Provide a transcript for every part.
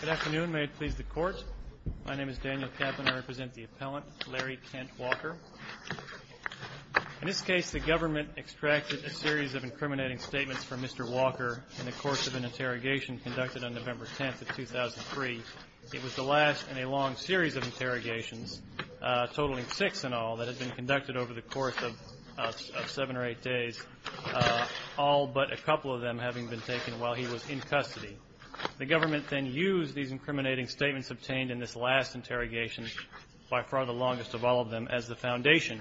Good afternoon. May it please the Court. My name is Daniel Kaplan. I represent the appellant, Larry Kent Walker. In this case, the government extracted a series of incriminating statements from Mr. Walker in the course of an interrogation conducted on November 10th of 2003. It was the last in a long series of interrogations, totaling six in all, that had been conducted over the course of seven or eight days, all but a couple of them having been taken while he was in custody. The government then used these incriminating statements obtained in this last interrogation, by far the longest of all of them, as the foundation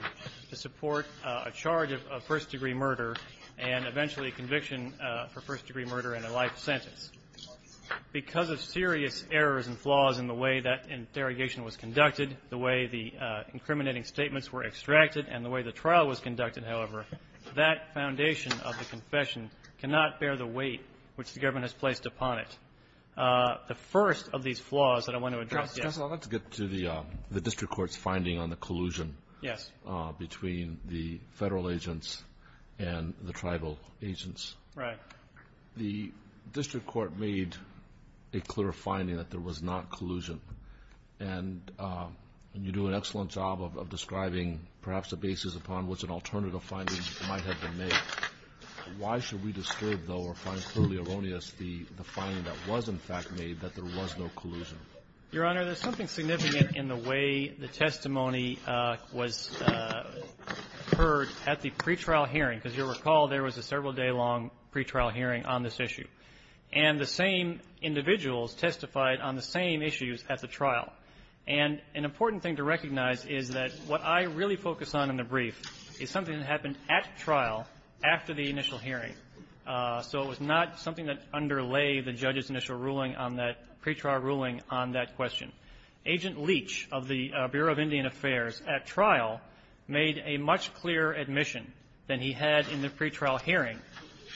to support a charge of first-degree murder and eventually a conviction for first-degree murder and a federal sentence. Because of serious errors and flaws in the way that interrogation was conducted, the way the incriminating statements were extracted, and the way the trial was conducted, however, that foundation of the confession cannot bear the weight which the government has placed upon it. The first of these flaws that I want to address is the district court's finding on the collusion between the federal agents and the tribal agents. Right. The district court made a clear finding that there was not collusion. And you do an excellent job of describing perhaps the basis upon which an alternative finding might have been made. Why should we disturb, though, or find clearly erroneous the finding that was, in fact, made that there was no collusion? Your Honor, there's something significant in the way the testimony was heard at the pretrial hearing, because you'll recall there was a several-day-long pretrial hearing on this issue. And the same individuals testified on the same issues at the trial. And an important thing to recognize is that what I really focus on in the brief is something that happened at trial, after the initial hearing. So it was not something that underlay the judge's initial ruling on that pretrial question. Agent Leach of the Bureau of Indian Affairs at trial made a much clearer admission than he had in the pretrial hearing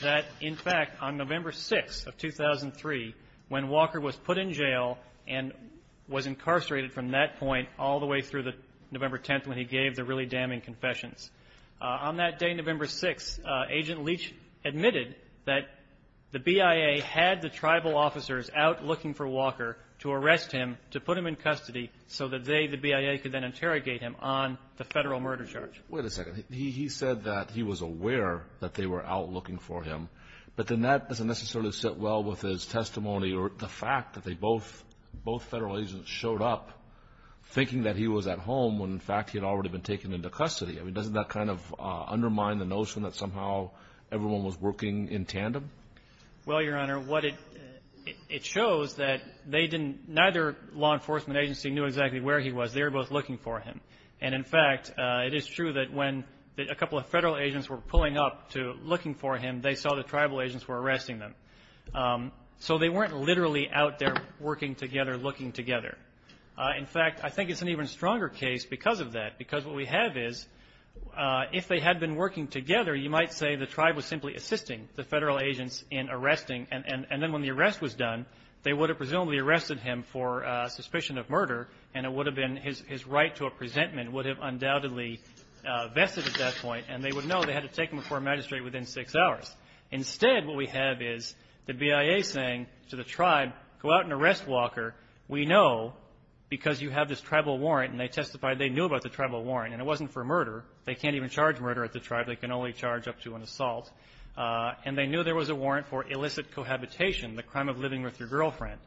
that, in fact, on November 6th of 2003, when Walker was put in jail and was incarcerated from that point all the way through the November 10th when he gave the really damning confessions, on that day, November 6th, Agent Leach admitted that the BIA had the tribal officers out looking for him to arrest him, to put him in custody, so that they, the BIA, could then interrogate him on the federal murder charge. Wait a second. He said that he was aware that they were out looking for him. But then that doesn't necessarily sit well with his testimony or the fact that they both, both federal agents showed up thinking that he was at home when, in fact, he had already been taken into custody. I mean, doesn't that kind of undermine the notion that somehow everyone was working in tandem? Well, Your Honor, what it, it shows that they didn't, neither law enforcement agency knew exactly where he was. They were both looking for him. And, in fact, it is true that when a couple of federal agents were pulling up to, looking for him, they saw the tribal agents were arresting them. So they weren't literally out there working together, looking together. In fact, I think it's an even stronger case because of that. Because what we have is, if they had been working together, you might say the tribe was simply assisting the federal agents in arresting. And then when the arrest was done, they would have presumably arrested him for suspicion of murder. And it would have been his, his right to a presentment would have undoubtedly vested at that point. And they would know they had to take him before a magistrate within six hours. Instead, what we have is the BIA saying to the tribe, go out and arrest Walker. We know because you have this tribal warrant. And they testified they knew about the tribal warrant. And it wasn't for murder. They can't even charge murder at the time. They can only charge up to an assault. And they knew there was a warrant for illicit cohabitation, the crime of living with your girlfriend.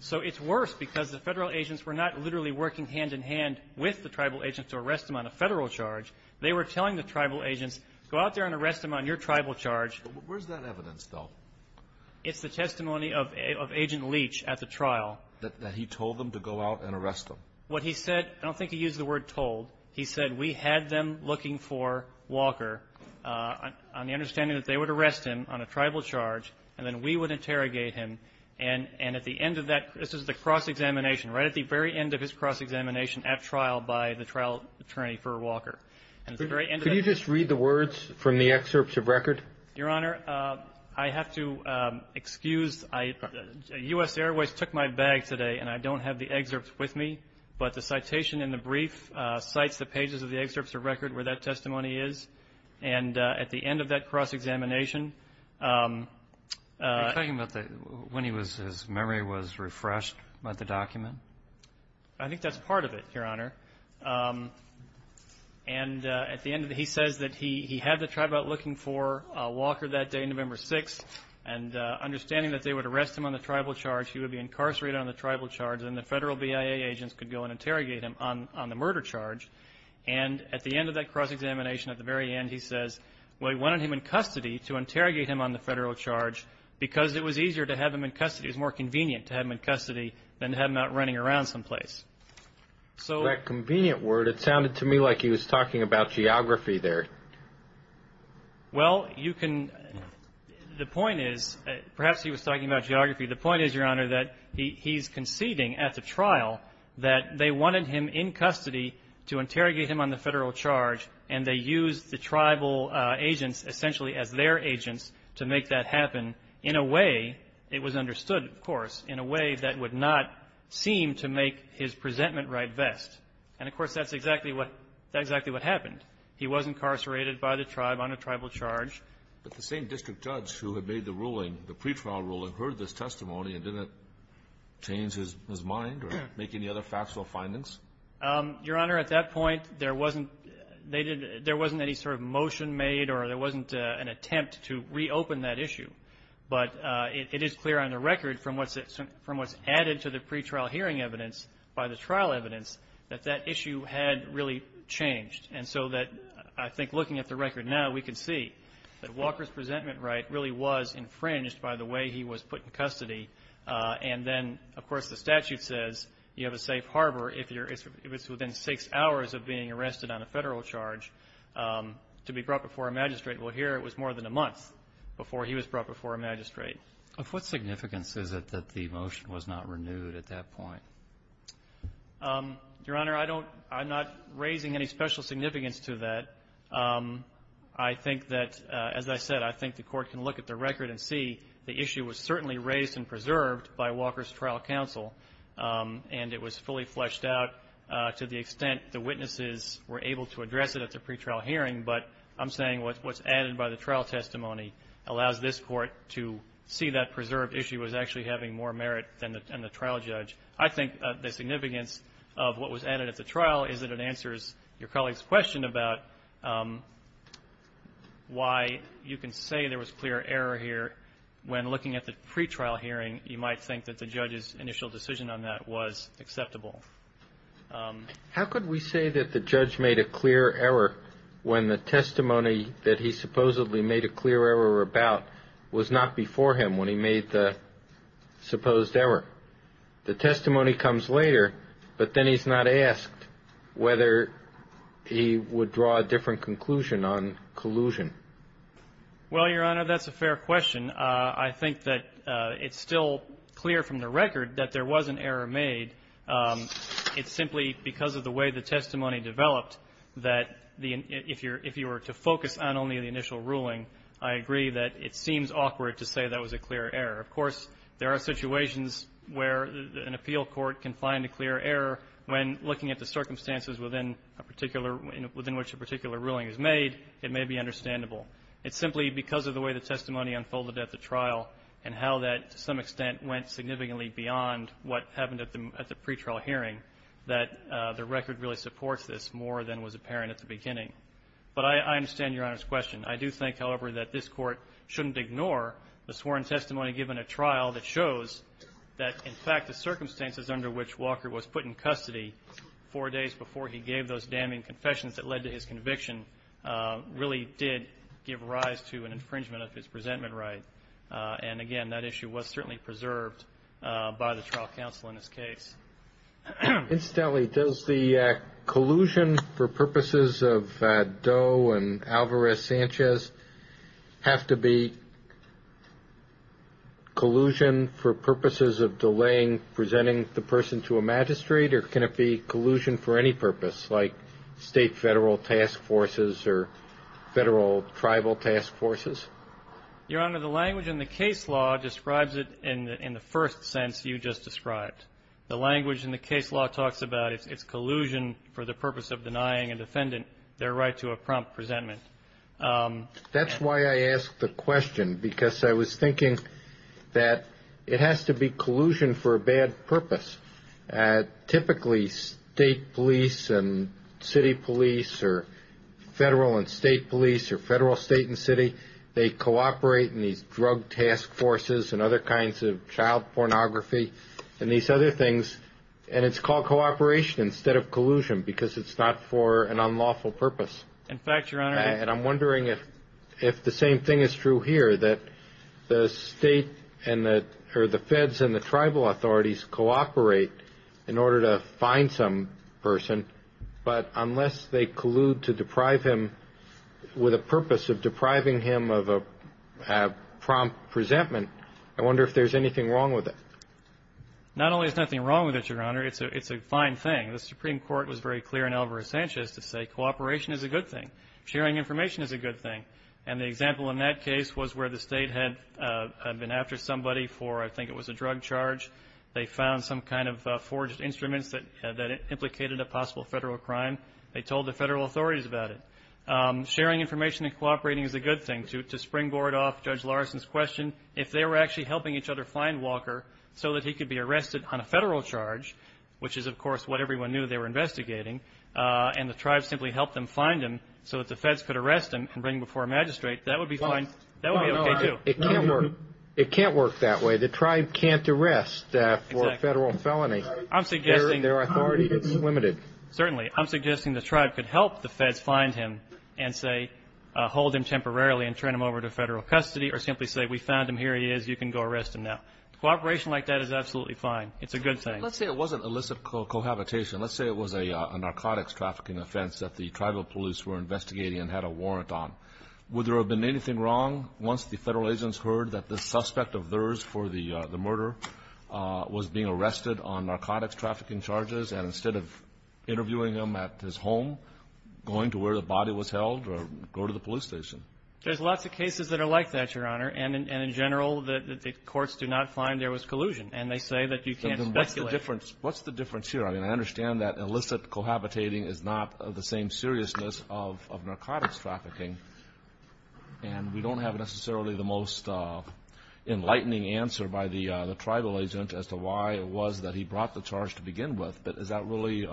So it's worse because the federal agents were not literally working hand-in-hand with the tribal agents to arrest them on a federal charge. They were telling the tribal agents, go out there and arrest them on your tribal charge. Alito. Where's that evidence, though? It's the testimony of, of Agent Leach at the trial. That, that he told them to go out and arrest him. What he said, I don't think he used the word told. He said, we had them looking for Walker on, on the understanding that they would arrest him on a tribal charge, and then we would interrogate him. And, and at the end of that, this is the cross examination, right at the very end of his cross examination at trial by the trial attorney for Walker. And at the very end of that. Could you just read the words from the excerpts of record? Your Honor, I have to excuse, I, U.S. Airways took my bag today, and I don't have the excerpts with me. But the citation in the brief cites the pages of the excerpts of record where that testimony is. And at the end of that cross examination. Are you talking about the, when he was, his memory was refreshed by the document? I think that's part of it, Your Honor. And at the end of the, he says that he, he had the tribe out looking for Walker that day, November 6th. And understanding that they would arrest him on the tribal charge, he would be incarcerated on the tribal charge, and the federal BIA agents could go and interrogate him on, on the murder charge. And at the end of that cross examination, at the very end, he says, well, he wanted him in custody to interrogate him on the federal charge because it was easier to have him in custody. It was more convenient to have him in custody than to have him out running around someplace. So that convenient word, it sounded to me like he was talking about geography there. Well, you can, the point is, perhaps he was talking about geography. The point is, Your to interrogate him on the federal charge, and they used the tribal agents essentially as their agents to make that happen in a way, it was understood, of course, in a way that would not seem to make his presentment right best. And, of course, that's exactly what, that's exactly what happened. He was incarcerated by the tribe on a tribal charge. But the same district judge who had made the ruling, the pretrial ruling, heard this testimony and didn't change his mind or make any other factual findings? Your Honor, at that point, there wasn't, they didn't, there wasn't any sort of motion made or there wasn't an attempt to reopen that issue. But it is clear on the record from what's, from what's added to the pretrial hearing evidence by the trial evidence that that issue had really changed. And so that, I think, looking at the record now, we can see that Walker's presentment right really was infringed by the way he was put in custody. And then, of course, the statute says you have a safe harbor if you're, if it's within six hours of being arrested on a federal charge to be brought before a magistrate. Well, here it was more than a month before he was brought before a magistrate. Of what significance is it that the motion was not renewed at that point? Your Honor, I don't, I'm not raising any special significance to that. I think that, as I said, I think the Court can look at the record and see the issue was certainly raised and preserved by Walker's trial counsel. And it was fully fleshed out to the extent the witnesses were able to address it at the pretrial hearing. But I'm saying what's added by the trial testimony allows this Court to see that preserved issue as actually having more merit than the trial judge. I think the significance of what was added at the trial is that it answers your colleague's question about why you can say there was clear error here when looking at the pretrial hearing, you might think that the judge's initial decision on that was acceptable. How could we say that the judge made a clear error when the testimony that he supposedly made a clear error about was not before him when he made the supposed error? The testimony comes later, but then he's not asked whether he would draw a different conclusion on collusion. Well, Your Honor, that's a fair question. I think that it's still clear from the record that there was an error made. It's simply because of the way the testimony developed that if you were to focus on only the initial ruling, I agree that it seems awkward to say that was a clear error. Of course, there are situations where an appeal court can find a clear error when looking at the circumstances within a particular – within which a particular ruling is made, it may be understandable. It's simply because of the way the testimony unfolded at the trial and how that, to some extent, went significantly beyond what happened at the pretrial hearing, that the record really supports this more than was apparent at the beginning. But I understand Your Honor's question. I do think, however, that this Court shouldn't ignore the sworn testimony given at trial that shows that, in fact, the circumstances under which Walker was put in custody four days before he gave those damning confessions that led to his conviction really did give rise to an infringement of his presentment right. And again, that issue was certainly preserved by the trial counsel in this case. Incidentally, does the collusion for purposes of Doe and Alvarez-Sanchez have to be collusion for purposes of delaying presenting the person to a magistrate, or can it be collusion for any purpose, like State Federal Task Forces or Federal Tribal Task Forces? Your Honor, the language in the case law describes it in the first sense you just described. The language in the case law talks about it's collusion for the purpose of denying a defendant their right to a prompt presentment. That's why I asked the question, because I was thinking that it has to be collusion for a bad purpose. Typically, State Police and City Police or Federal and State Police or Federal, State, and City, they cooperate in these drug task forces and other kinds of child pornography and these other things, and it's called cooperation instead of collusion because it's not for an unlawful purpose. In fact, Your Honor. And I'm wondering if the same thing is true here, that the State or the Feds and the Tribal authorities cooperate in order to find some person, but unless they collude to deprive him of a prompt presentment, I wonder if there's anything wrong with it. Not only is nothing wrong with it, Your Honor, it's a fine thing. The Supreme Court was very clear in Alvarez-Sanchez to say cooperation is a good thing. Sharing information is a good thing. And the example in that case was where the State had been after somebody for, I think it was a drug charge. They found some kind of forged instruments that implicated a possible Federal crime. They told the Federal authorities about it. Sharing information and cooperating is a good thing. To springboard off Judge Larson's question, if they were actually helping each other find Walker so that he could be arrested on a Federal charge, which is, of course, what everyone knew they were investigating, and the Tribes simply helped them find him so that the Feds could arrest him and bring him before a magistrate, that would be fine. That would be okay, too. It can't work. It can't work that way. The Tribe can't arrest for a Federal felony. Their authority is limited. Certainly. I'm suggesting the Tribe could help the Feds find him and, say, hold him temporarily and turn him over to Federal custody or simply say, we found him. Here he is. You can go arrest him now. Cooperation like that is absolutely fine. It's a good thing. Let's say it wasn't illicit cohabitation. Let's say it was a narcotics trafficking offense that the Tribal police were investigating and had a warrant on. Would there have been anything wrong once the Federal agents heard that the suspect of theirs for the murder was being arrested on narcotics trafficking charges and instead of interviewing him at his home, going to where the body was held or go to the police station? There's lots of cases that are like that, Your Honor. And in general, the courts do not find there was collusion. And they say that you can't speculate. What's the difference here? I mean, I understand that illicit cohabitating is not of the same seriousness of narcotics trafficking, and we don't have necessarily the most enlightening answer by the Tribal agent as to why it was that he brought the charge to begin with. But is that really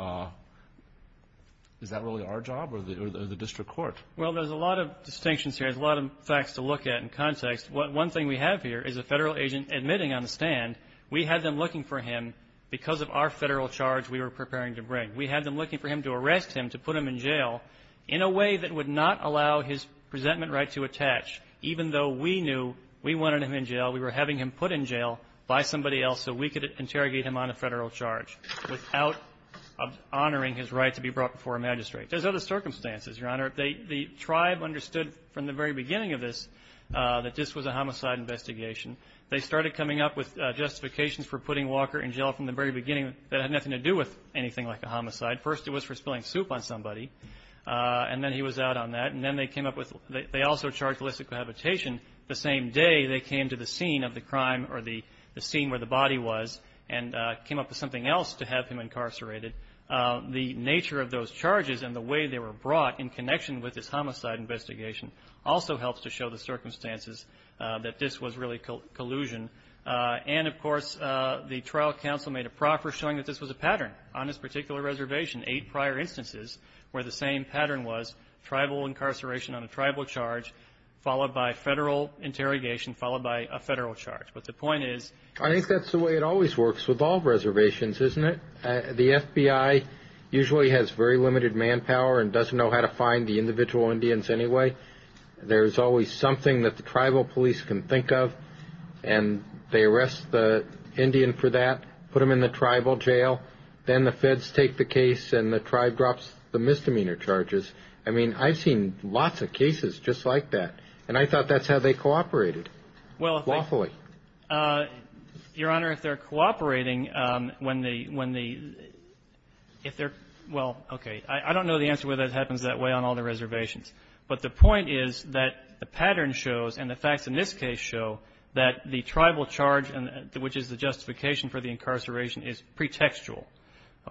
our job or the district court? Well, there's a lot of distinctions here. There's a lot of facts to look at in context. One thing we have here is a Federal agent admitting on the stand, we had them looking for him because of our Federal charge we were preparing to bring. We had them looking for him to arrest him, to put him in jail in a way that would not allow his presentment right to attach, even though we knew we wanted him in jail, we were having him put in jail by somebody else so we could interrogate him on a Federal charge without honoring his right to be brought before a magistrate. There's other circumstances, Your Honor. The Tribe understood from the very beginning of this that this was a homicide investigation. They started coming up with justifications for putting Walker in jail from the very beginning that had nothing to do with anything like a homicide. First, it was for spilling soup on somebody, and then he was out on that. And then they came up with they also charged illicit cohabitation the same day they came to the scene of the crime or the scene where the body was and came up with something else to have him incarcerated. The nature of those charges and the way they were brought in connection with this homicide investigation also helps to show the circumstances that this was really collusion. And, of course, the trial counsel made a proffer showing that this was a pattern on this particular reservation, eight prior instances where the same pattern was, tribal incarceration on a tribal charge, followed by Federal interrogation, followed by a Federal charge. But the point is... I think that's the way it always works with all reservations, isn't it? The FBI usually has very limited manpower and doesn't know how to find the individual Indians anyway. There's always something that the tribal police can think of, and they arrest the Indian for that, put them in the tribal jail, then the Feds take the case and the tribe drops the misdemeanor charges. I mean, I've seen lots of cases just like that, and I thought that's how they cooperated lawfully. Your Honor, if they're cooperating when the... If they're... Well, okay. I don't know the answer whether it happens that way on all the reservations. But the point is that the pattern shows, and the facts in this case show, that the tribal charge, which is the justification for the incarceration, is pretextual.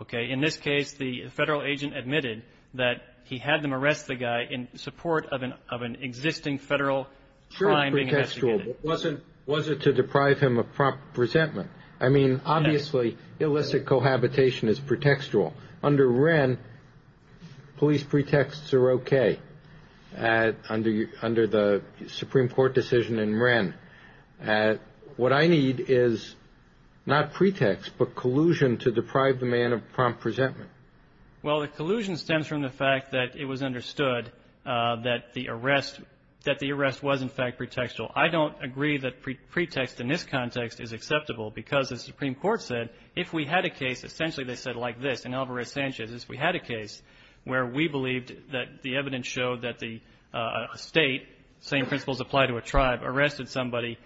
Okay? In this case, the Federal agent admitted that he had them arrest the guy in support of an existing Federal... Sure, it's pretextual, but was it to deprive him of prompt resentment? I mean, obviously, illicit cohabitation is pretextual. Under Wren, police pretexts are okay, under the Supreme Court decision in Wren. What I need is not pretext, but collusion to deprive the man of prompt resentment. Well, the collusion stems from the fact that it was understood that the arrest was, in fact, pretextual. I don't agree that pretext in this context is acceptable, because the Supreme Court said if we had a case, essentially they said like this, in Alvarez-Sanchez, if we had a case where we believed that the evidence showed that the state, same principles apply to a tribe, arrested somebody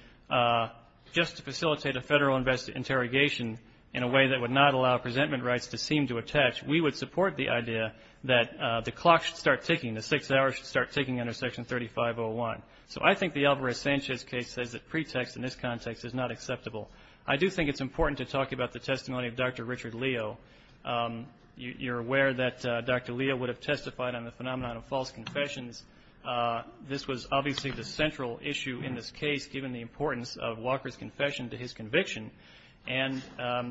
just to facilitate a Federal interrogation in a way that would not allow resentment rights to seem to attach, we would support the idea that the clock should start ticking, the six hours should start ticking under Section 3501. So I think the Alvarez-Sanchez case says that pretext in this context is not acceptable. I do think it's important to talk about the testimony of Dr. Richard Leo. You're aware that Dr. Leo would have testified on the phenomenon of false confessions. This was obviously the central issue in this case, given the importance of Walker's confession to his conviction, and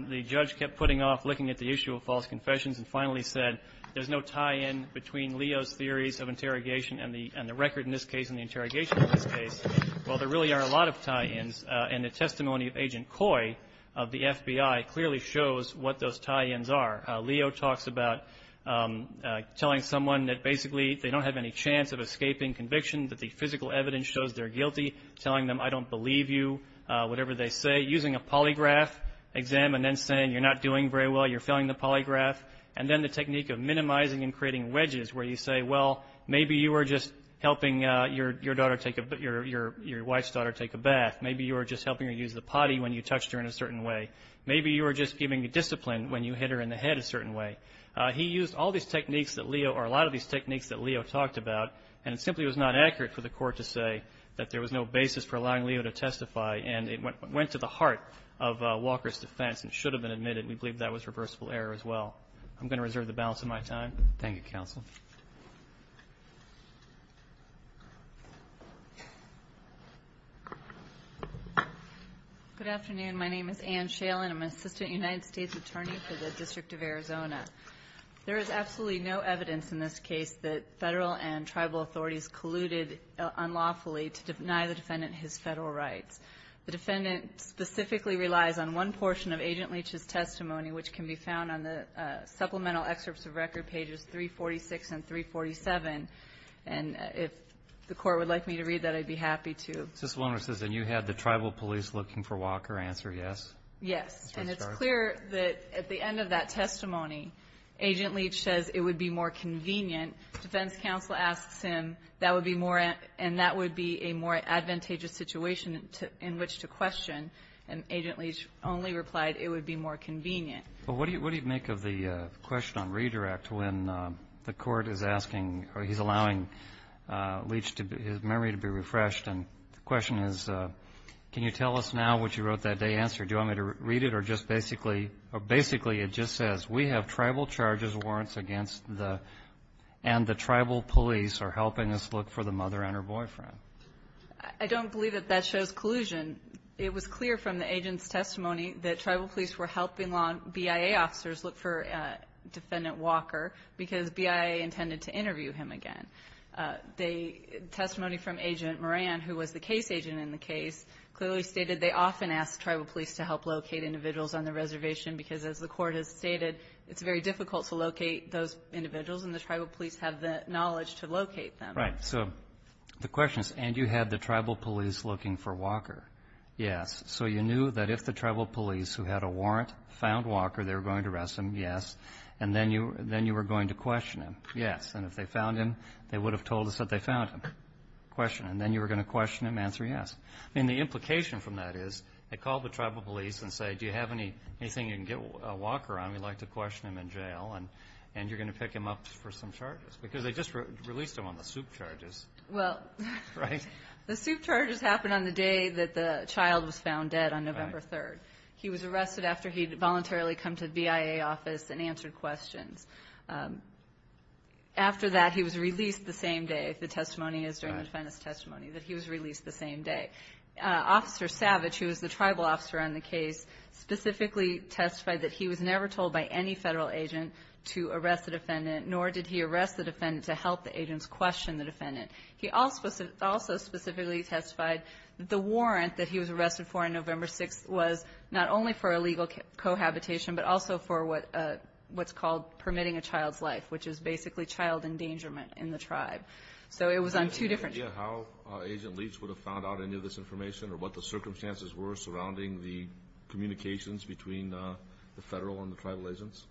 the judge kept putting off looking at the issue of false confessions and finally said there's no tie-in between Leo's theories of interrogation and the record in this case and the interrogation in this case. Well, there really are a lot of tie-ins, and the testimony of Agent Coy of the FBI clearly shows what those tie-ins are. Leo talks about telling someone that basically they don't have any chance of escaping conviction, that the physical evidence shows they're guilty, telling them I don't believe you, whatever they say, using a polygraph exam, and then saying you're not doing very well, you're failing the polygraph, and then the technique of minimizing and creating your wife's daughter take a bath. Maybe you were just helping her use the potty when you touched her in a certain way. Maybe you were just giving the discipline when you hit her in the head a certain way. He used all these techniques that Leo, or a lot of these techniques that Leo talked about, and it simply was not accurate for the court to say that there was no basis for allowing Leo to testify, and it went to the heart of Walker's defense and should have been admitted. We believe that was reversible error as well. I'm going to reserve the balance of my time. Thank you, Counsel. Good afternoon. My name is Anne Shalen. I'm an Assistant United States Attorney for the District of Arizona. There is absolutely no evidence in this case that federal and tribal authorities colluded unlawfully to deny the defendant his federal rights. The defendant specifically relies on one portion of Agent Leach's testimony, which can be 346 and 347. And if the court would like me to read that, I'd be happy to. Assistant Lawyer says that you had the tribal police looking for Walker. Answer yes? Yes. And it's clear that at the end of that testimony, Agent Leach says it would be more convenient. Defense counsel asks him, that would be more, and that would be a more advantageous situation in which to question. And Agent Leach only replied it would be more convenient. Well, what do you make of the question on redirect when the court is asking, or he's allowing Leach to, his memory to be refreshed? And the question is, can you tell us now what you wrote that day? Answer, do you want me to read it or just basically, or basically it just says, we have tribal charges warrants against the, and the tribal police are helping us look for the mother and her boyfriend. I don't believe that that shows collusion. It was clear from the agent's testimony that tribal police were helping BIA officers look for defendant Walker, because BIA intended to interview him again. The testimony from Agent Moran, who was the case agent in the case, clearly stated they often ask tribal police to help locate individuals on the reservation, because as the court has stated, it's very difficult to locate those individuals, and the tribal police have the knowledge to locate them. Right. So the question is, and you had the tribal police looking for Walker? Yes. So you knew that if the tribal police who had a warrant found Walker, they were going to arrest him? Yes. And then you were going to question him? Yes. And if they found him, they would have told us that they found him? Question. And then you were going to question him? Answer, yes. I mean, the implication from that is, they call the tribal police and say, do you have anything you can get Walker on? We'd like to question him in jail, and you're going to pick him up for some charges. Because they just released him on the soup charges. Well, the soup charges happened on the day that the child was found dead, on November 3rd. He was arrested after he'd voluntarily come to the BIA office and answered questions. After that, he was released the same day, if the testimony is during the defendant's testimony, that he was released the same day. Officer Savage, who was the tribal officer on the case, specifically testified that he was never told by any federal agent to arrest the defendant, nor did he arrest the defendant to help the agents question the defendant. He also specifically testified that the warrant that he was arrested for on November 6th was not only for illegal cohabitation, but also for what's called permitting a child's life, which is basically child endangerment in the tribe. So it was on two different charges. Do you have any idea how Agent Leach would have found out any of this information, or what the circumstances were surrounding the communications between the federal and the tribal agents?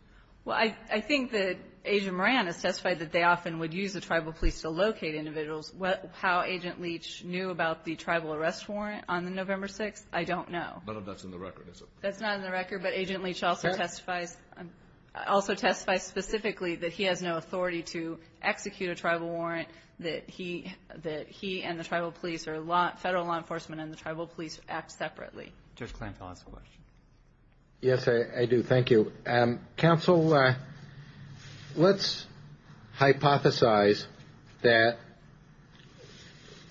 Well, I think that Agent Moran has testified that they often would use the tribal police to locate individuals. How Agent Leach knew about the tribal arrest warrant on the November 6th, I don't know. But that's in the record, is it? That's not in the record. But Agent Leach also testifies specifically that he has no authority to execute a tribal police act separately. Judge Kleinfeld has a question. Yes, I do. Thank you. Counsel, let's hypothesize that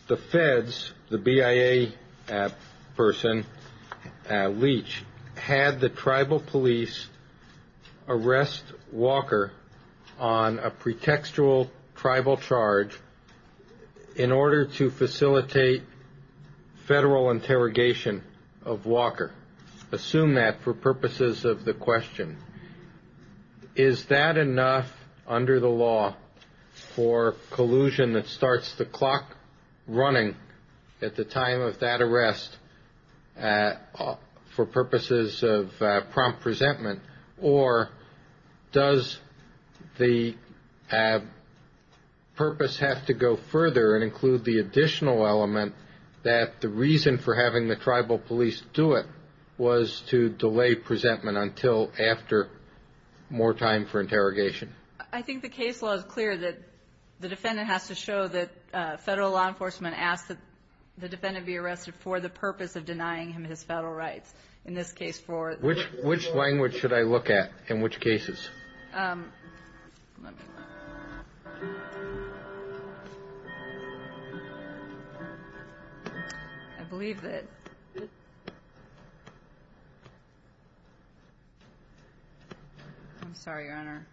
the feds, the BIA person, Leach, had the tribal police arrest Walker on a pretextual tribal charge in order to facilitate federal interrogation of Walker. Assume that for purposes of the question, is that enough under the law for collusion that starts the clock running at the time of that arrest for purposes of prompt resentment? Or does the purpose have to go further and include the additional element that the reason for having the tribal police do it was to delay presentment until after more time for interrogation? I think the case law is clear that the defendant has to show that federal law enforcement asked that the defendant be arrested for the purpose of denying him his federal rights. In this case, for... Which language should I look at in which cases? I believe that... I'm sorry, Your Honor.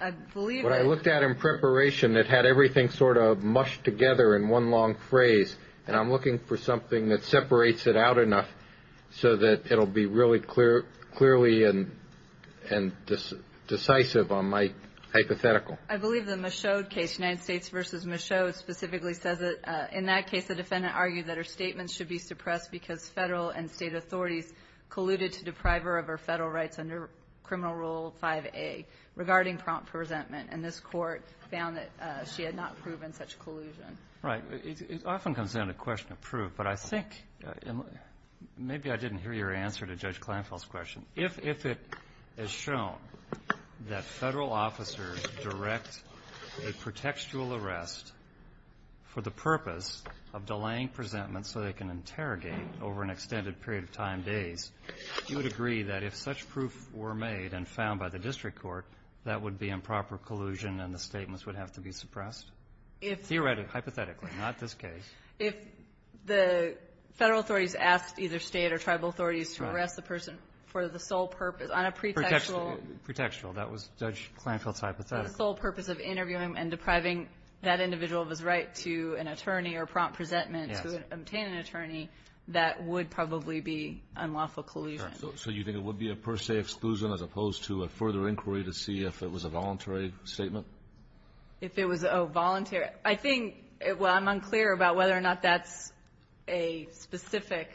I believe that... What I looked at in preparation, it had everything sort of mushed together in one long phrase, and I'm looking for something that separates it out enough so that it'll be really clear, clearly and decisive on my hypothetical. I believe the Michaud case, United States v. Michaud, specifically says that in that case, the defendant argued that her statement should be suppressed because federal and state authorities colluded to deprive her of her federal rights under Criminal Rule 5A regarding prompt resentment, and this Court found that she had not proven such collusion. Right. It often comes down to question of proof, but I think, and maybe I didn't hear your answer to Judge Kleinfeld's question, if it is shown that federal officers direct a pretextual arrest for the purpose of delaying presentment so they can interrogate over an extended period of time, days, you would agree that if such proof were made and found by the district court, that would be improper collusion and the statements would have to be suppressed, theoretically, hypothetically, not this case? If the federal authorities asked either state or tribal authorities to arrest the person for the sole purpose on a pretextual --. Pretextual. That was Judge Kleinfeld's hypothetical. The sole purpose of interviewing and depriving that individual of his right to an attorney or prompt resentment to obtain an attorney, that would probably be unlawful collusion. So you think it would be a per se exclusion as opposed to a further inquiry to see if it was a voluntary statement? If it was a voluntary. I think, well, I'm unclear about whether or not that's a specific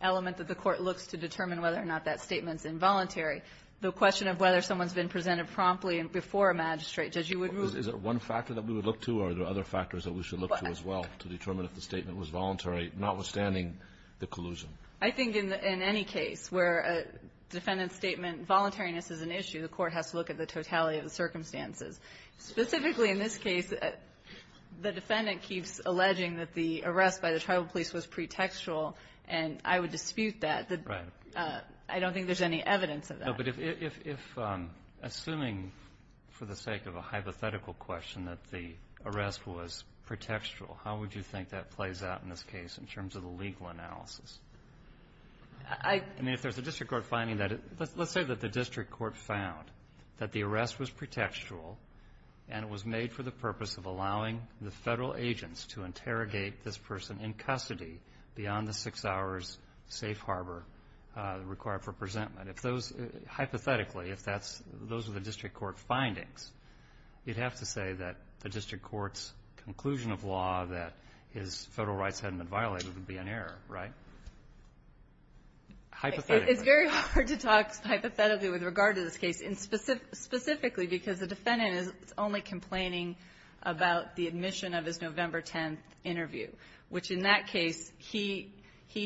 element that the court looks to determine whether or not that statement's involuntary. The question of whether someone's been presented promptly and before a magistrate, Judge, you would move? Is it one factor that we would look to or are there other factors that we should look to as well to determine if the statement was voluntary, notwithstanding the collusion? I think in any case where a defendant's statement, voluntariness is an issue, the Specifically, in this case, the defendant keeps alleging that the arrest by the tribal police was pretextual, and I would dispute that. Right. I don't think there's any evidence of that. No, but if assuming for the sake of a hypothetical question that the arrest was pretextual, how would you think that plays out in this case in terms of the legal analysis? I mean, if there's a district court finding that, let's say that the district court found that the arrest was pretextual and it was made for the purpose of allowing the federal agents to interrogate this person in custody beyond the six hours safe harbor required for presentment. If those, hypothetically, if those were the district court findings, you'd have to say that the district court's conclusion of law that his federal rights hadn't been violated would be an error, right? Hypothetically. It's very hard to talk hypothetically with regard to this case, specifically because the defendant is only complaining about the admission of his November 10th interview, which in that case, he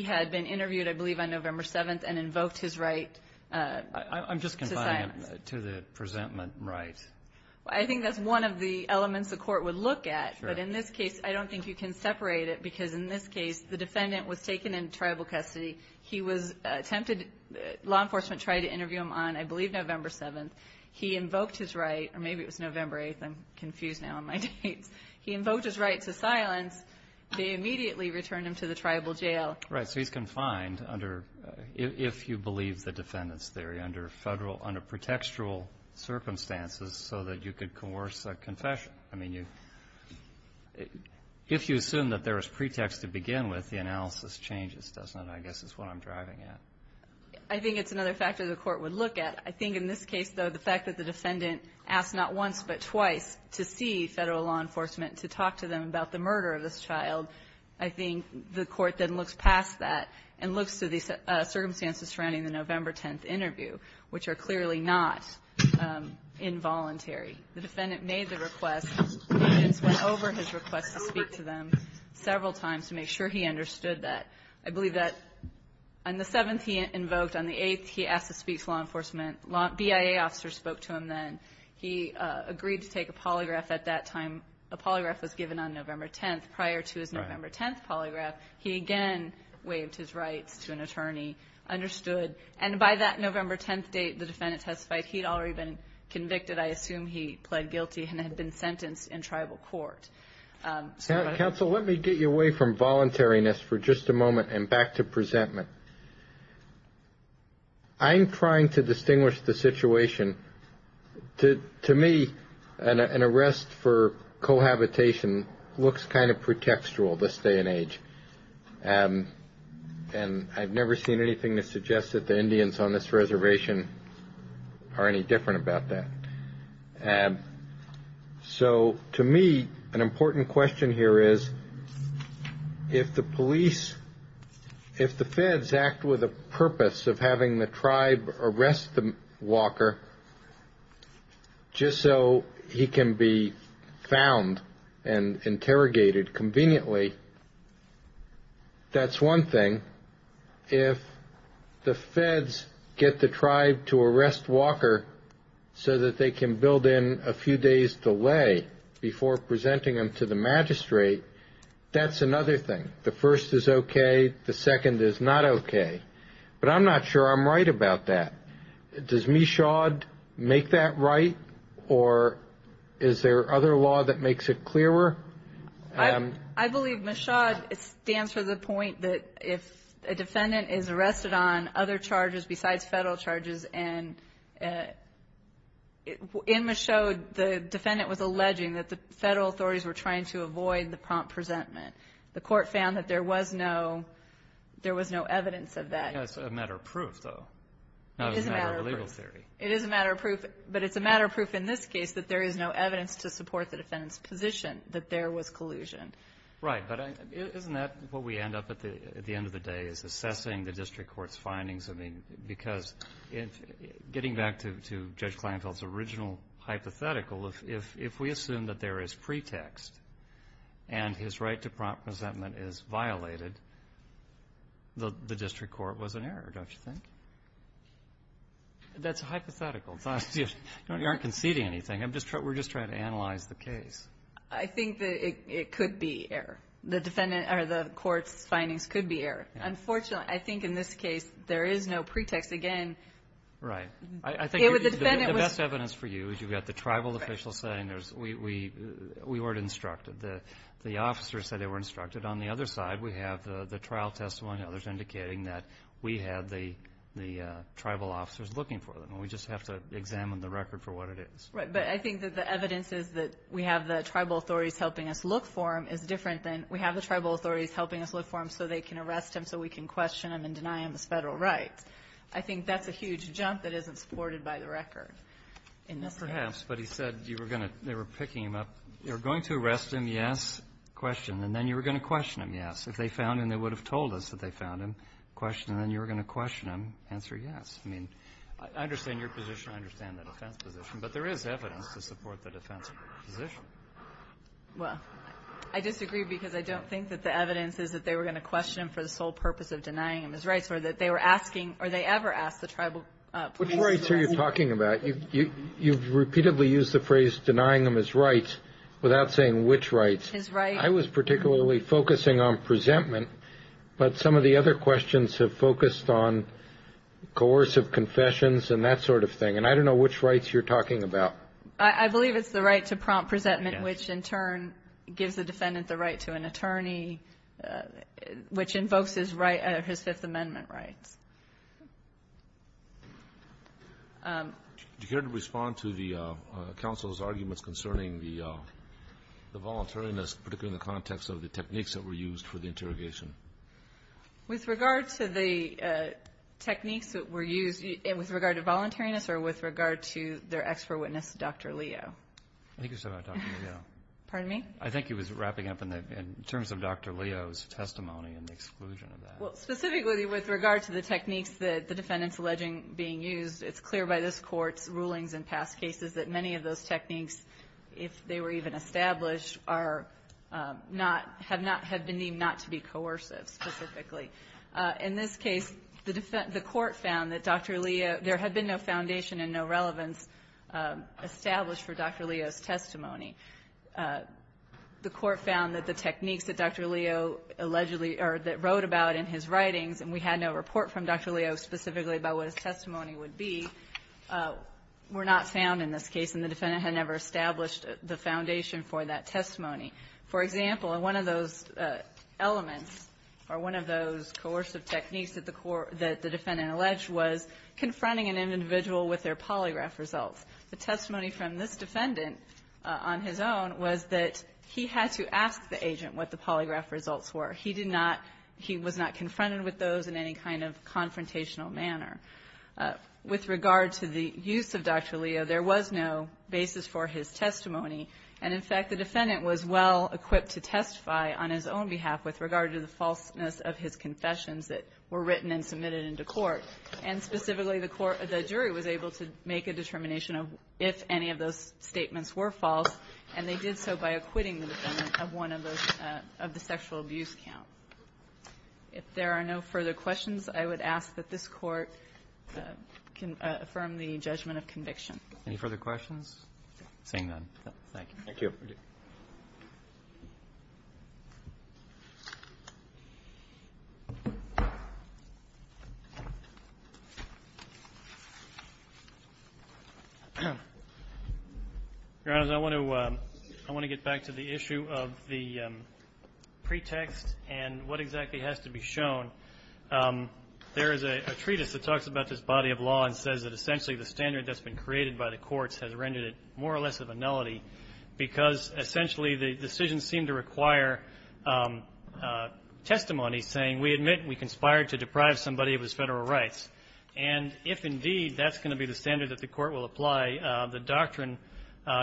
had been interviewed, I believe, on November 7th and invoked his right to silence. I'm just confiding to the presentment right. I think that's one of the elements the court would look at, but in this case, I don't think you can separate it because in this case, the defendant was taken into tribal custody. He was attempted, law enforcement tried to interview him on, I believe, November 7th. He invoked his right, or maybe it was November 8th. I'm confused now on my dates. He invoked his right to silence. They immediately returned him to the tribal jail. Right, so he's confined under, if you believe the defendant's theory, under federal, under pretextual circumstances so that you could coerce a confession. I mean, if you assume that there is pretext to begin with, the analysis changes, doesn't it? I guess that's what I'm driving at. I think it's another factor the court would look at. I think in this case, though, the fact that the defendant asked not once but twice to see federal law enforcement to talk to them about the murder of this child, I think the court then looks past that and looks to the circumstances surrounding the November 10th interview, which are clearly not involuntary. The defendant made the request and went over his request to speak to them several times to make sure he understood that. I believe that on the 7th, he invoked. On the 8th, he asked to speak to law enforcement. BIA officers spoke to him then. He agreed to take a polygraph at that time. A polygraph was given on November 10th. Prior to his November 10th polygraph, he again waived his rights to an attorney, understood. And by that November 10th date, the defendant testified he'd already been convicted. I assume he pled guilty and had been sentenced in tribal court. Counsel, let me get you away from voluntariness for just a moment and back to presentment. I'm trying to distinguish the situation. To me, an arrest for cohabitation looks kind of pretextual this day and age. And I've never seen anything that suggests that the Indians on this reservation are any different about that. And so to me, an important question here is if the police, if the feds act with a purpose of having the tribe arrest Walker, just so he can be found and interrogated conveniently, that's one thing. If the feds get the tribe to arrest Walker so that they can build in a few days delay before presenting him to the magistrate, that's another thing. The first is okay. The second is not okay. But I'm not sure I'm right about that. Does Michaud make that right? Or is there other law that makes it clearer? I believe Michaud stands for the point that if a defendant is arrested on other charges besides federal charges and in Michaud, the defendant was alleging that the federal authorities were trying to avoid the prompt presentment. The court found that there was no evidence of that. It's a matter of proof, though. It is a matter of proof. But it's a matter of proof in this case that there is no evidence to support the defendant's position. That there was collusion. Right. But isn't that what we end up, at the end of the day, is assessing the district court's findings? I mean, because getting back to Judge Kleinfeld's original hypothetical, if we assume that there is pretext and his right to prompt presentment is violated, the district court was in error, don't you think? That's hypothetical. It's not that you aren't conceding anything. I'm just trying to analyze the case. I think that it could be error. The defendant or the court's findings could be error. Unfortunately, I think in this case, there is no pretext. Again, it was the defendant. The best evidence for you is you've got the tribal officials saying we weren't instructed. The officers said they weren't instructed. On the other side, we have the trial testimony, others indicating that we had the tribal officers looking for them. And we just have to examine the record for what it is. But I think that the evidence is that we have the tribal authorities helping us look for him is different than we have the tribal authorities helping us look for him so they can arrest him, so we can question him and deny him his federal rights. I think that's a huge jump that isn't supported by the record in this case. Perhaps. But he said they were picking him up. You're going to arrest him, yes, question. And then you were going to question him, yes. If they found him, they would have told us that they found him, question. And then you were going to question him, answer yes. I mean, I understand your position. I understand the defense position. But there is evidence to support the defense position. Well, I disagree because I don't think that the evidence is that they were going to question him for the sole purpose of denying him his rights or that they were asking, or they ever asked the tribal police. Which rights are you talking about? You've repeatedly used the phrase denying him his rights without saying which rights. His rights. I was particularly focusing on presentment. But some of the other questions have focused on coercive confessions and that sort of thing. And I don't know which rights you're talking about. I believe it's the right to prompt presentment, which, in turn, gives the defendant the right to an attorney, which invokes his right, his Fifth Amendment rights. Do you care to respond to the counsel's arguments concerning the voluntariness, particularly in the context of the techniques that were used for the interrogation? With regard to the techniques that were used, with regard to voluntariness or with regard to their ex-for-witness, Dr. Leo? I think you're talking about Dr. Leo. Pardon me? I think he was wrapping up in terms of Dr. Leo's testimony and the exclusion of that. Well, specifically with regard to the techniques that the defendant's alleging being used, it's clear by this Court's rulings in past cases that many of those techniques, if they were even established, are not, have not, have been deemed not to be coercive, specifically. In this case, the court found that Dr. Leo, there had been no foundation and no relevance established for Dr. Leo's testimony. The court found that the techniques that Dr. Leo allegedly, or that wrote about in his writings, and we had no report from Dr. Leo specifically about what his testimony would be, were not found in this case, and the defendant had never established the foundation for that testimony. For example, one of those elements, or one of those coercive techniques that the defendant alleged was confronting an individual with their polygraph results. The testimony from this defendant, on his own, was that he had to ask the agent what the polygraph results were. He did not, he was not confronted with those in any kind of confrontational manner. With regard to the use of Dr. Leo, there was no basis for his testimony, and in this case, Dr. Leo was well-equipped to testify on his own behalf with regard to the falseness of his confessions that were written and submitted into court. And specifically, the jury was able to make a determination of if any of those statements were false, and they did so by acquitting the defendant of one of the sexual abuse count. If there are no further questions, I would ask that this court affirm the judgment of conviction. Any further questions? Seeing none, thank you. Thank you. Your Honor, I want to get back to the issue of the pretext and what exactly has to be shown. There is a treatise that talks about this body of law and says that essentially the standard that's been created by the courts has rendered it more or less of a nullity because essentially the decisions seem to require testimony saying we admit we conspired to deprive somebody of his Federal rights. And if indeed that's going to be the standard that the Court will apply, the doctrine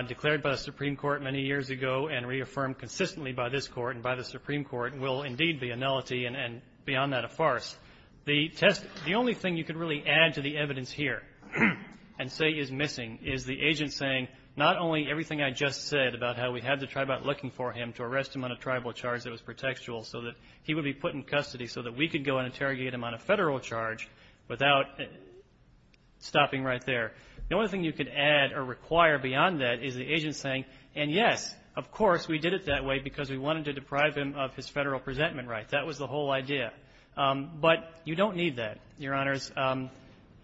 declared by the Supreme Court many years ago and reaffirmed consistently by this Court and by the Supreme Court will indeed be a nullity and beyond that a farce. The test the only thing you could really add to the evidence here and say is missing is the agent saying not only everything I just said about how we had to try about looking for him to arrest him on a tribal charge that was pretextual so that he would be put in custody so that we could go and interrogate him on a Federal charge without stopping right there. The only thing you could add or require beyond that is the agent saying, and yes, of course, we did it that way because we wanted to deprive him of his Federal presentment rights. That was the whole idea. But you don't need that, Your Honors.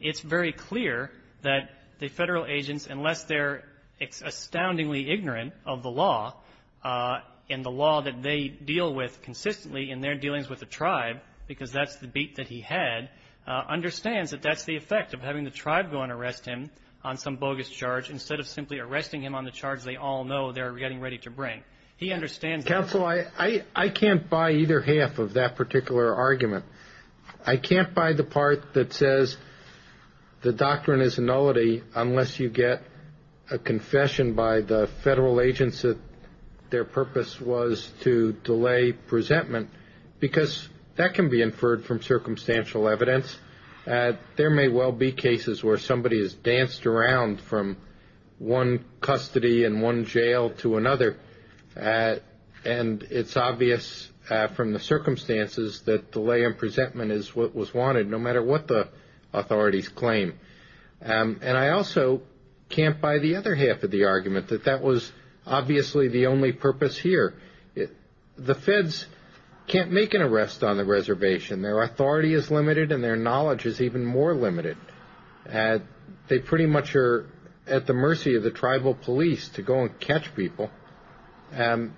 It's very clear that the Federal agents, unless they're astoundingly ignorant of the law and the law that they deal with consistently in their dealings with the tribe, because that's the beat that he had, understands that that's the effect of having the tribe go and arrest him on some bogus charge instead of simply arresting him on the charge they all know they're getting ready to bring. He understands that. Counsel, I can't buy either half of that particular argument. I can't buy the part that says the doctrine is nullity unless you get a confession by the Federal agents that their purpose was to delay presentment, because that can be inferred from circumstantial evidence. There may well be cases where somebody has danced around from one custody and one and it's obvious from the circumstances that delay in presentment is what was wanted, no matter what the authorities claim. And I also can't buy the other half of the argument, that that was obviously the only purpose here. The Feds can't make an arrest on the reservation. Their authority is limited and their knowledge is even more limited. They pretty much are at the mercy of the tribal police to go and catch people. And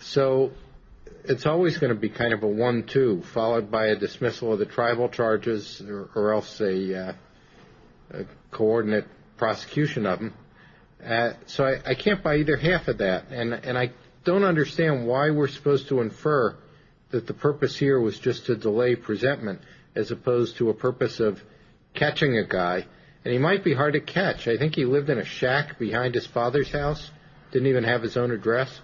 so it's always going to be kind of a one-two, followed by a dismissal of the tribal charges or else a coordinate prosecution of them. So I can't buy either half of that. And I don't understand why we're supposed to infer that the purpose here was just to delay presentment as opposed to a purpose of catching a guy. And he might be hard to catch. I think he lived in a shack behind his father's house. Didn't even have his own address.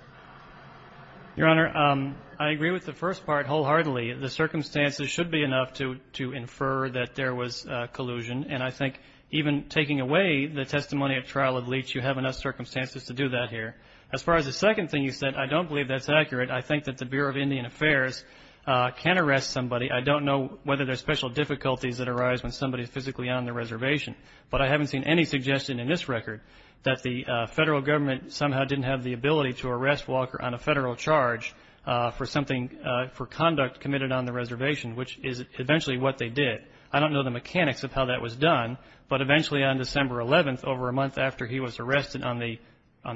Your Honor, I agree with the first part wholeheartedly. The circumstances should be enough to infer that there was collusion. And I think even taking away the testimony of trial of Leach, you have enough circumstances to do that here. As far as the second thing you said, I don't believe that's accurate. I think that the Bureau of Indian Affairs can arrest somebody. I don't know whether there's special difficulties that arise when somebody is physically on the reservation. But I haven't seen any suggestion in this record that the federal government somehow didn't have the ability to arrest Walker on a federal charge for something, for conduct committed on the reservation, which is eventually what they did. I don't know the mechanics of how that was done, but eventually on December 11th, over a month after he was arrested on the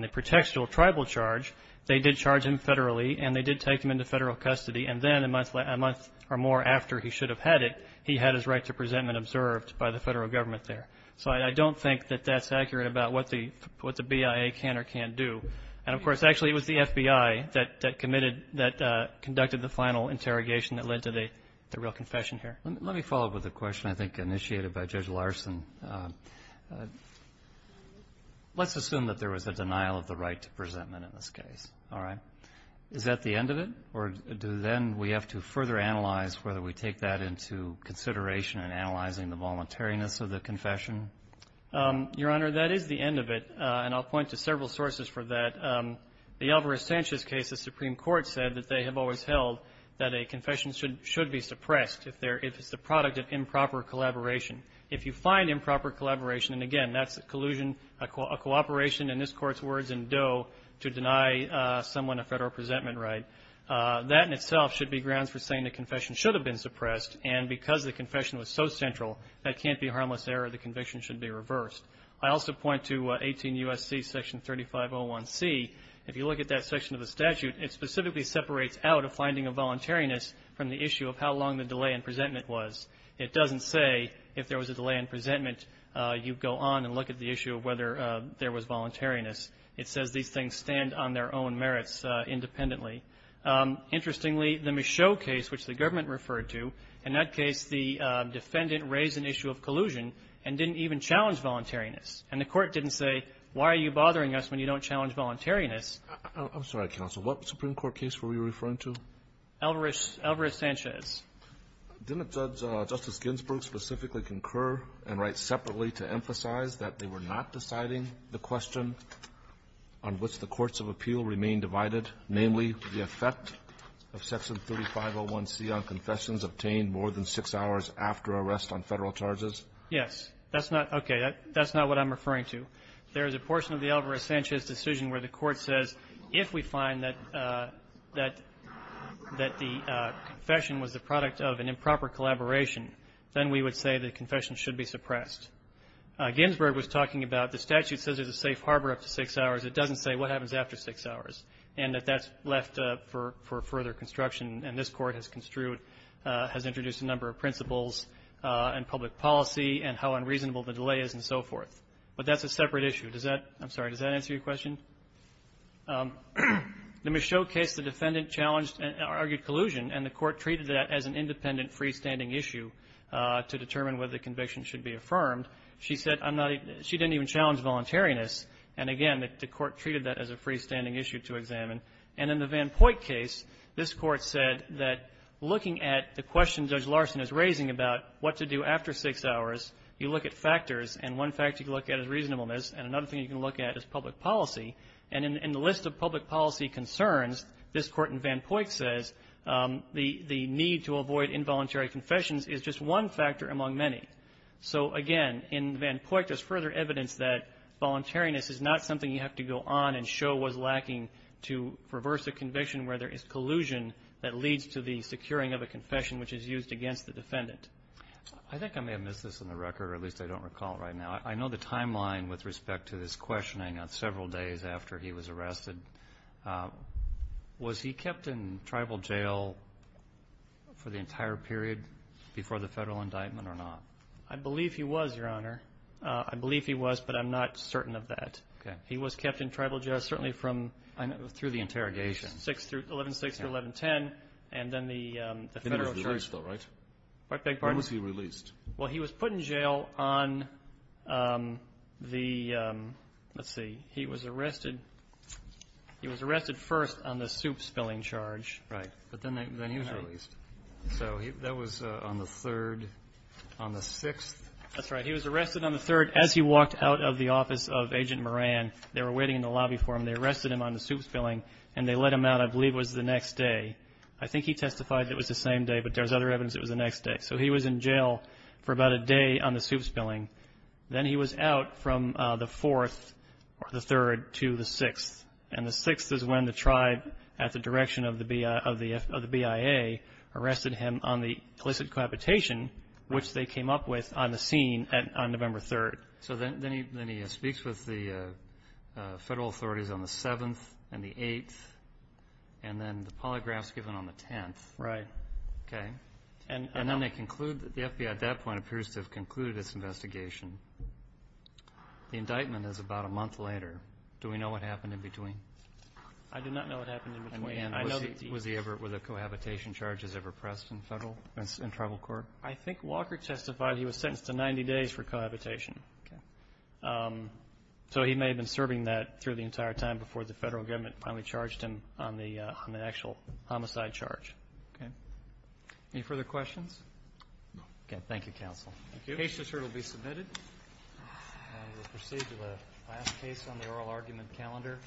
protectional tribal charge, they did charge him federally and they did take him into federal custody. And then a month or more after he should have had it, he had his right to presentment observed by the federal government there. So I don't think that that's accurate about what the BIA can or can't do. And of course, actually it was the FBI that committed, that conducted the final interrogation that led to the real confession here. Let me follow up with a question I think initiated by Judge Larson. Let's assume that there was a denial of the right to presentment in this case, all right? Is that the end of it? Or do then we have to further analyze whether we take that into consideration and analyzing the voluntariness of the confession? Your Honor, that is the end of it. And I'll point to several sources for that. The Alvarez-Sanchez case, the Supreme Court said that they have always held that a confession should be suppressed if it's the product of improper collaboration. If you find improper collaboration, and again, that's a collusion, a cooperation in this Court's words in Doe to deny someone a federal presentment right, that in itself should be grounds for saying the confession should have been suppressed. And because the confession was so central, that can't be harmless error. The conviction should be reversed. I also point to 18 U.S.C. section 3501C. If you look at that section of the statute, it specifically separates out a finding of voluntariness from the issue of how long the delay in presentment was. It doesn't say if there was a delay in presentment, you go on and look at the issue of whether there was voluntariness. It says these things stand on their own merits independently. Interestingly, the Michaud case, which the government referred to, in that case, the defendant raised an issue of collusion and didn't even challenge voluntariness. And the Court didn't say, why are you bothering us when you don't challenge voluntariness? I'm sorry, counsel. What Supreme Court case were we referring to? Alvarez-Sanchez. Didn't Judge Justice Ginsburg specifically concur and write separately to emphasize that they were not deciding the question on which the courts of appeal remain divided, namely, the effect of section 3501C on confessions obtained more than six hours after arrest on Federal charges? Yes. That's not okay. That's not what I'm referring to. There is a portion of the Alvarez-Sanchez decision where the Court says, if we find that the confession was the product of an improper collaboration, then we would say the confession should be suppressed. Ginsburg was talking about the statute says there's a safe harbor up to six hours. It doesn't say what happens after six hours. And that that's left for further construction. And this Court has construed, has introduced a number of principles and public policy and how unreasonable the delay is and so forth. But that's a separate issue. Does that — I'm sorry. Does that answer your question? The Michaud case, the defendant challenged and argued collusion, and the Court treated that as an independent freestanding issue to determine whether the conviction should be affirmed. She said, I'm not — she didn't even challenge voluntariness. And again, the Court treated that as a freestanding issue to examine. And in the Van Poyck case, this Court said that looking at the question Judge Larson is raising about what to do after six hours, you look at factors, and one factor you can look at is reasonableness, and another thing you can look at is public policy. And in the list of public policy concerns, this Court in Van Poyck says the — the need to avoid involuntary confessions is just one factor among many. So again, in Van Poyck, there's further evidence that voluntariness is not something you have to go on and show was lacking to reverse a conviction where there is collusion that leads to the securing of a confession which is used against the defendant. I think I may have missed this on the record, or at least I don't recall it right now. I know the timeline with respect to this questioning on several days after he was arrested. Was he kept in tribal jail for the entire period before the federal indictment or not? I believe he was, Your Honor. I believe he was, but I'm not certain of that. Okay. He was kept in tribal jail certainly from — I know. Through the interrogation. Six through — 11-6 through 11-10, and then the federal charge. The federal charge, though, right? Pardon? When was he released? Well, he was put in jail on the — let's see. He was arrested — he was arrested first on the soup spilling charge. Right. But then he was released. So that was on the 3rd. On the 6th. That's right. He was arrested on the 3rd as he walked out of the office of Agent Moran. They were waiting in the lobby for him. They arrested him on the soup spilling, and they let him out, I believe, was the next day. I think he testified it was the same day, but there's other evidence it was the next day. So he was in jail for about a day on the soup spilling. Then he was out from the 4th or the 3rd to the 6th. And the 6th is when the tribe, at the direction of the BIA, arrested him on the illicit cohabitation, which they came up with on the scene on November 3rd. So then he speaks with the federal authorities on the 7th and the 8th, and then the polygraph's given on the 10th. Right. Okay. And then they conclude — the FBI, at that point, appears to have concluded its investigation. The indictment is about a month later. Do we know what happened in between? I do not know what happened in between. And was he ever — were the cohabitation charges ever pressed in federal — in tribal court? I think Walker testified he was sentenced to 90 days for cohabitation. Okay. So he may have been serving that through the entire time before the federal government finally charged him on the actual homicide charge. Okay. Any further questions? No. Okay. Thank you, counsel. Thank you. The case is here to be submitted, and we'll proceed to the last case on the oral argument calendar.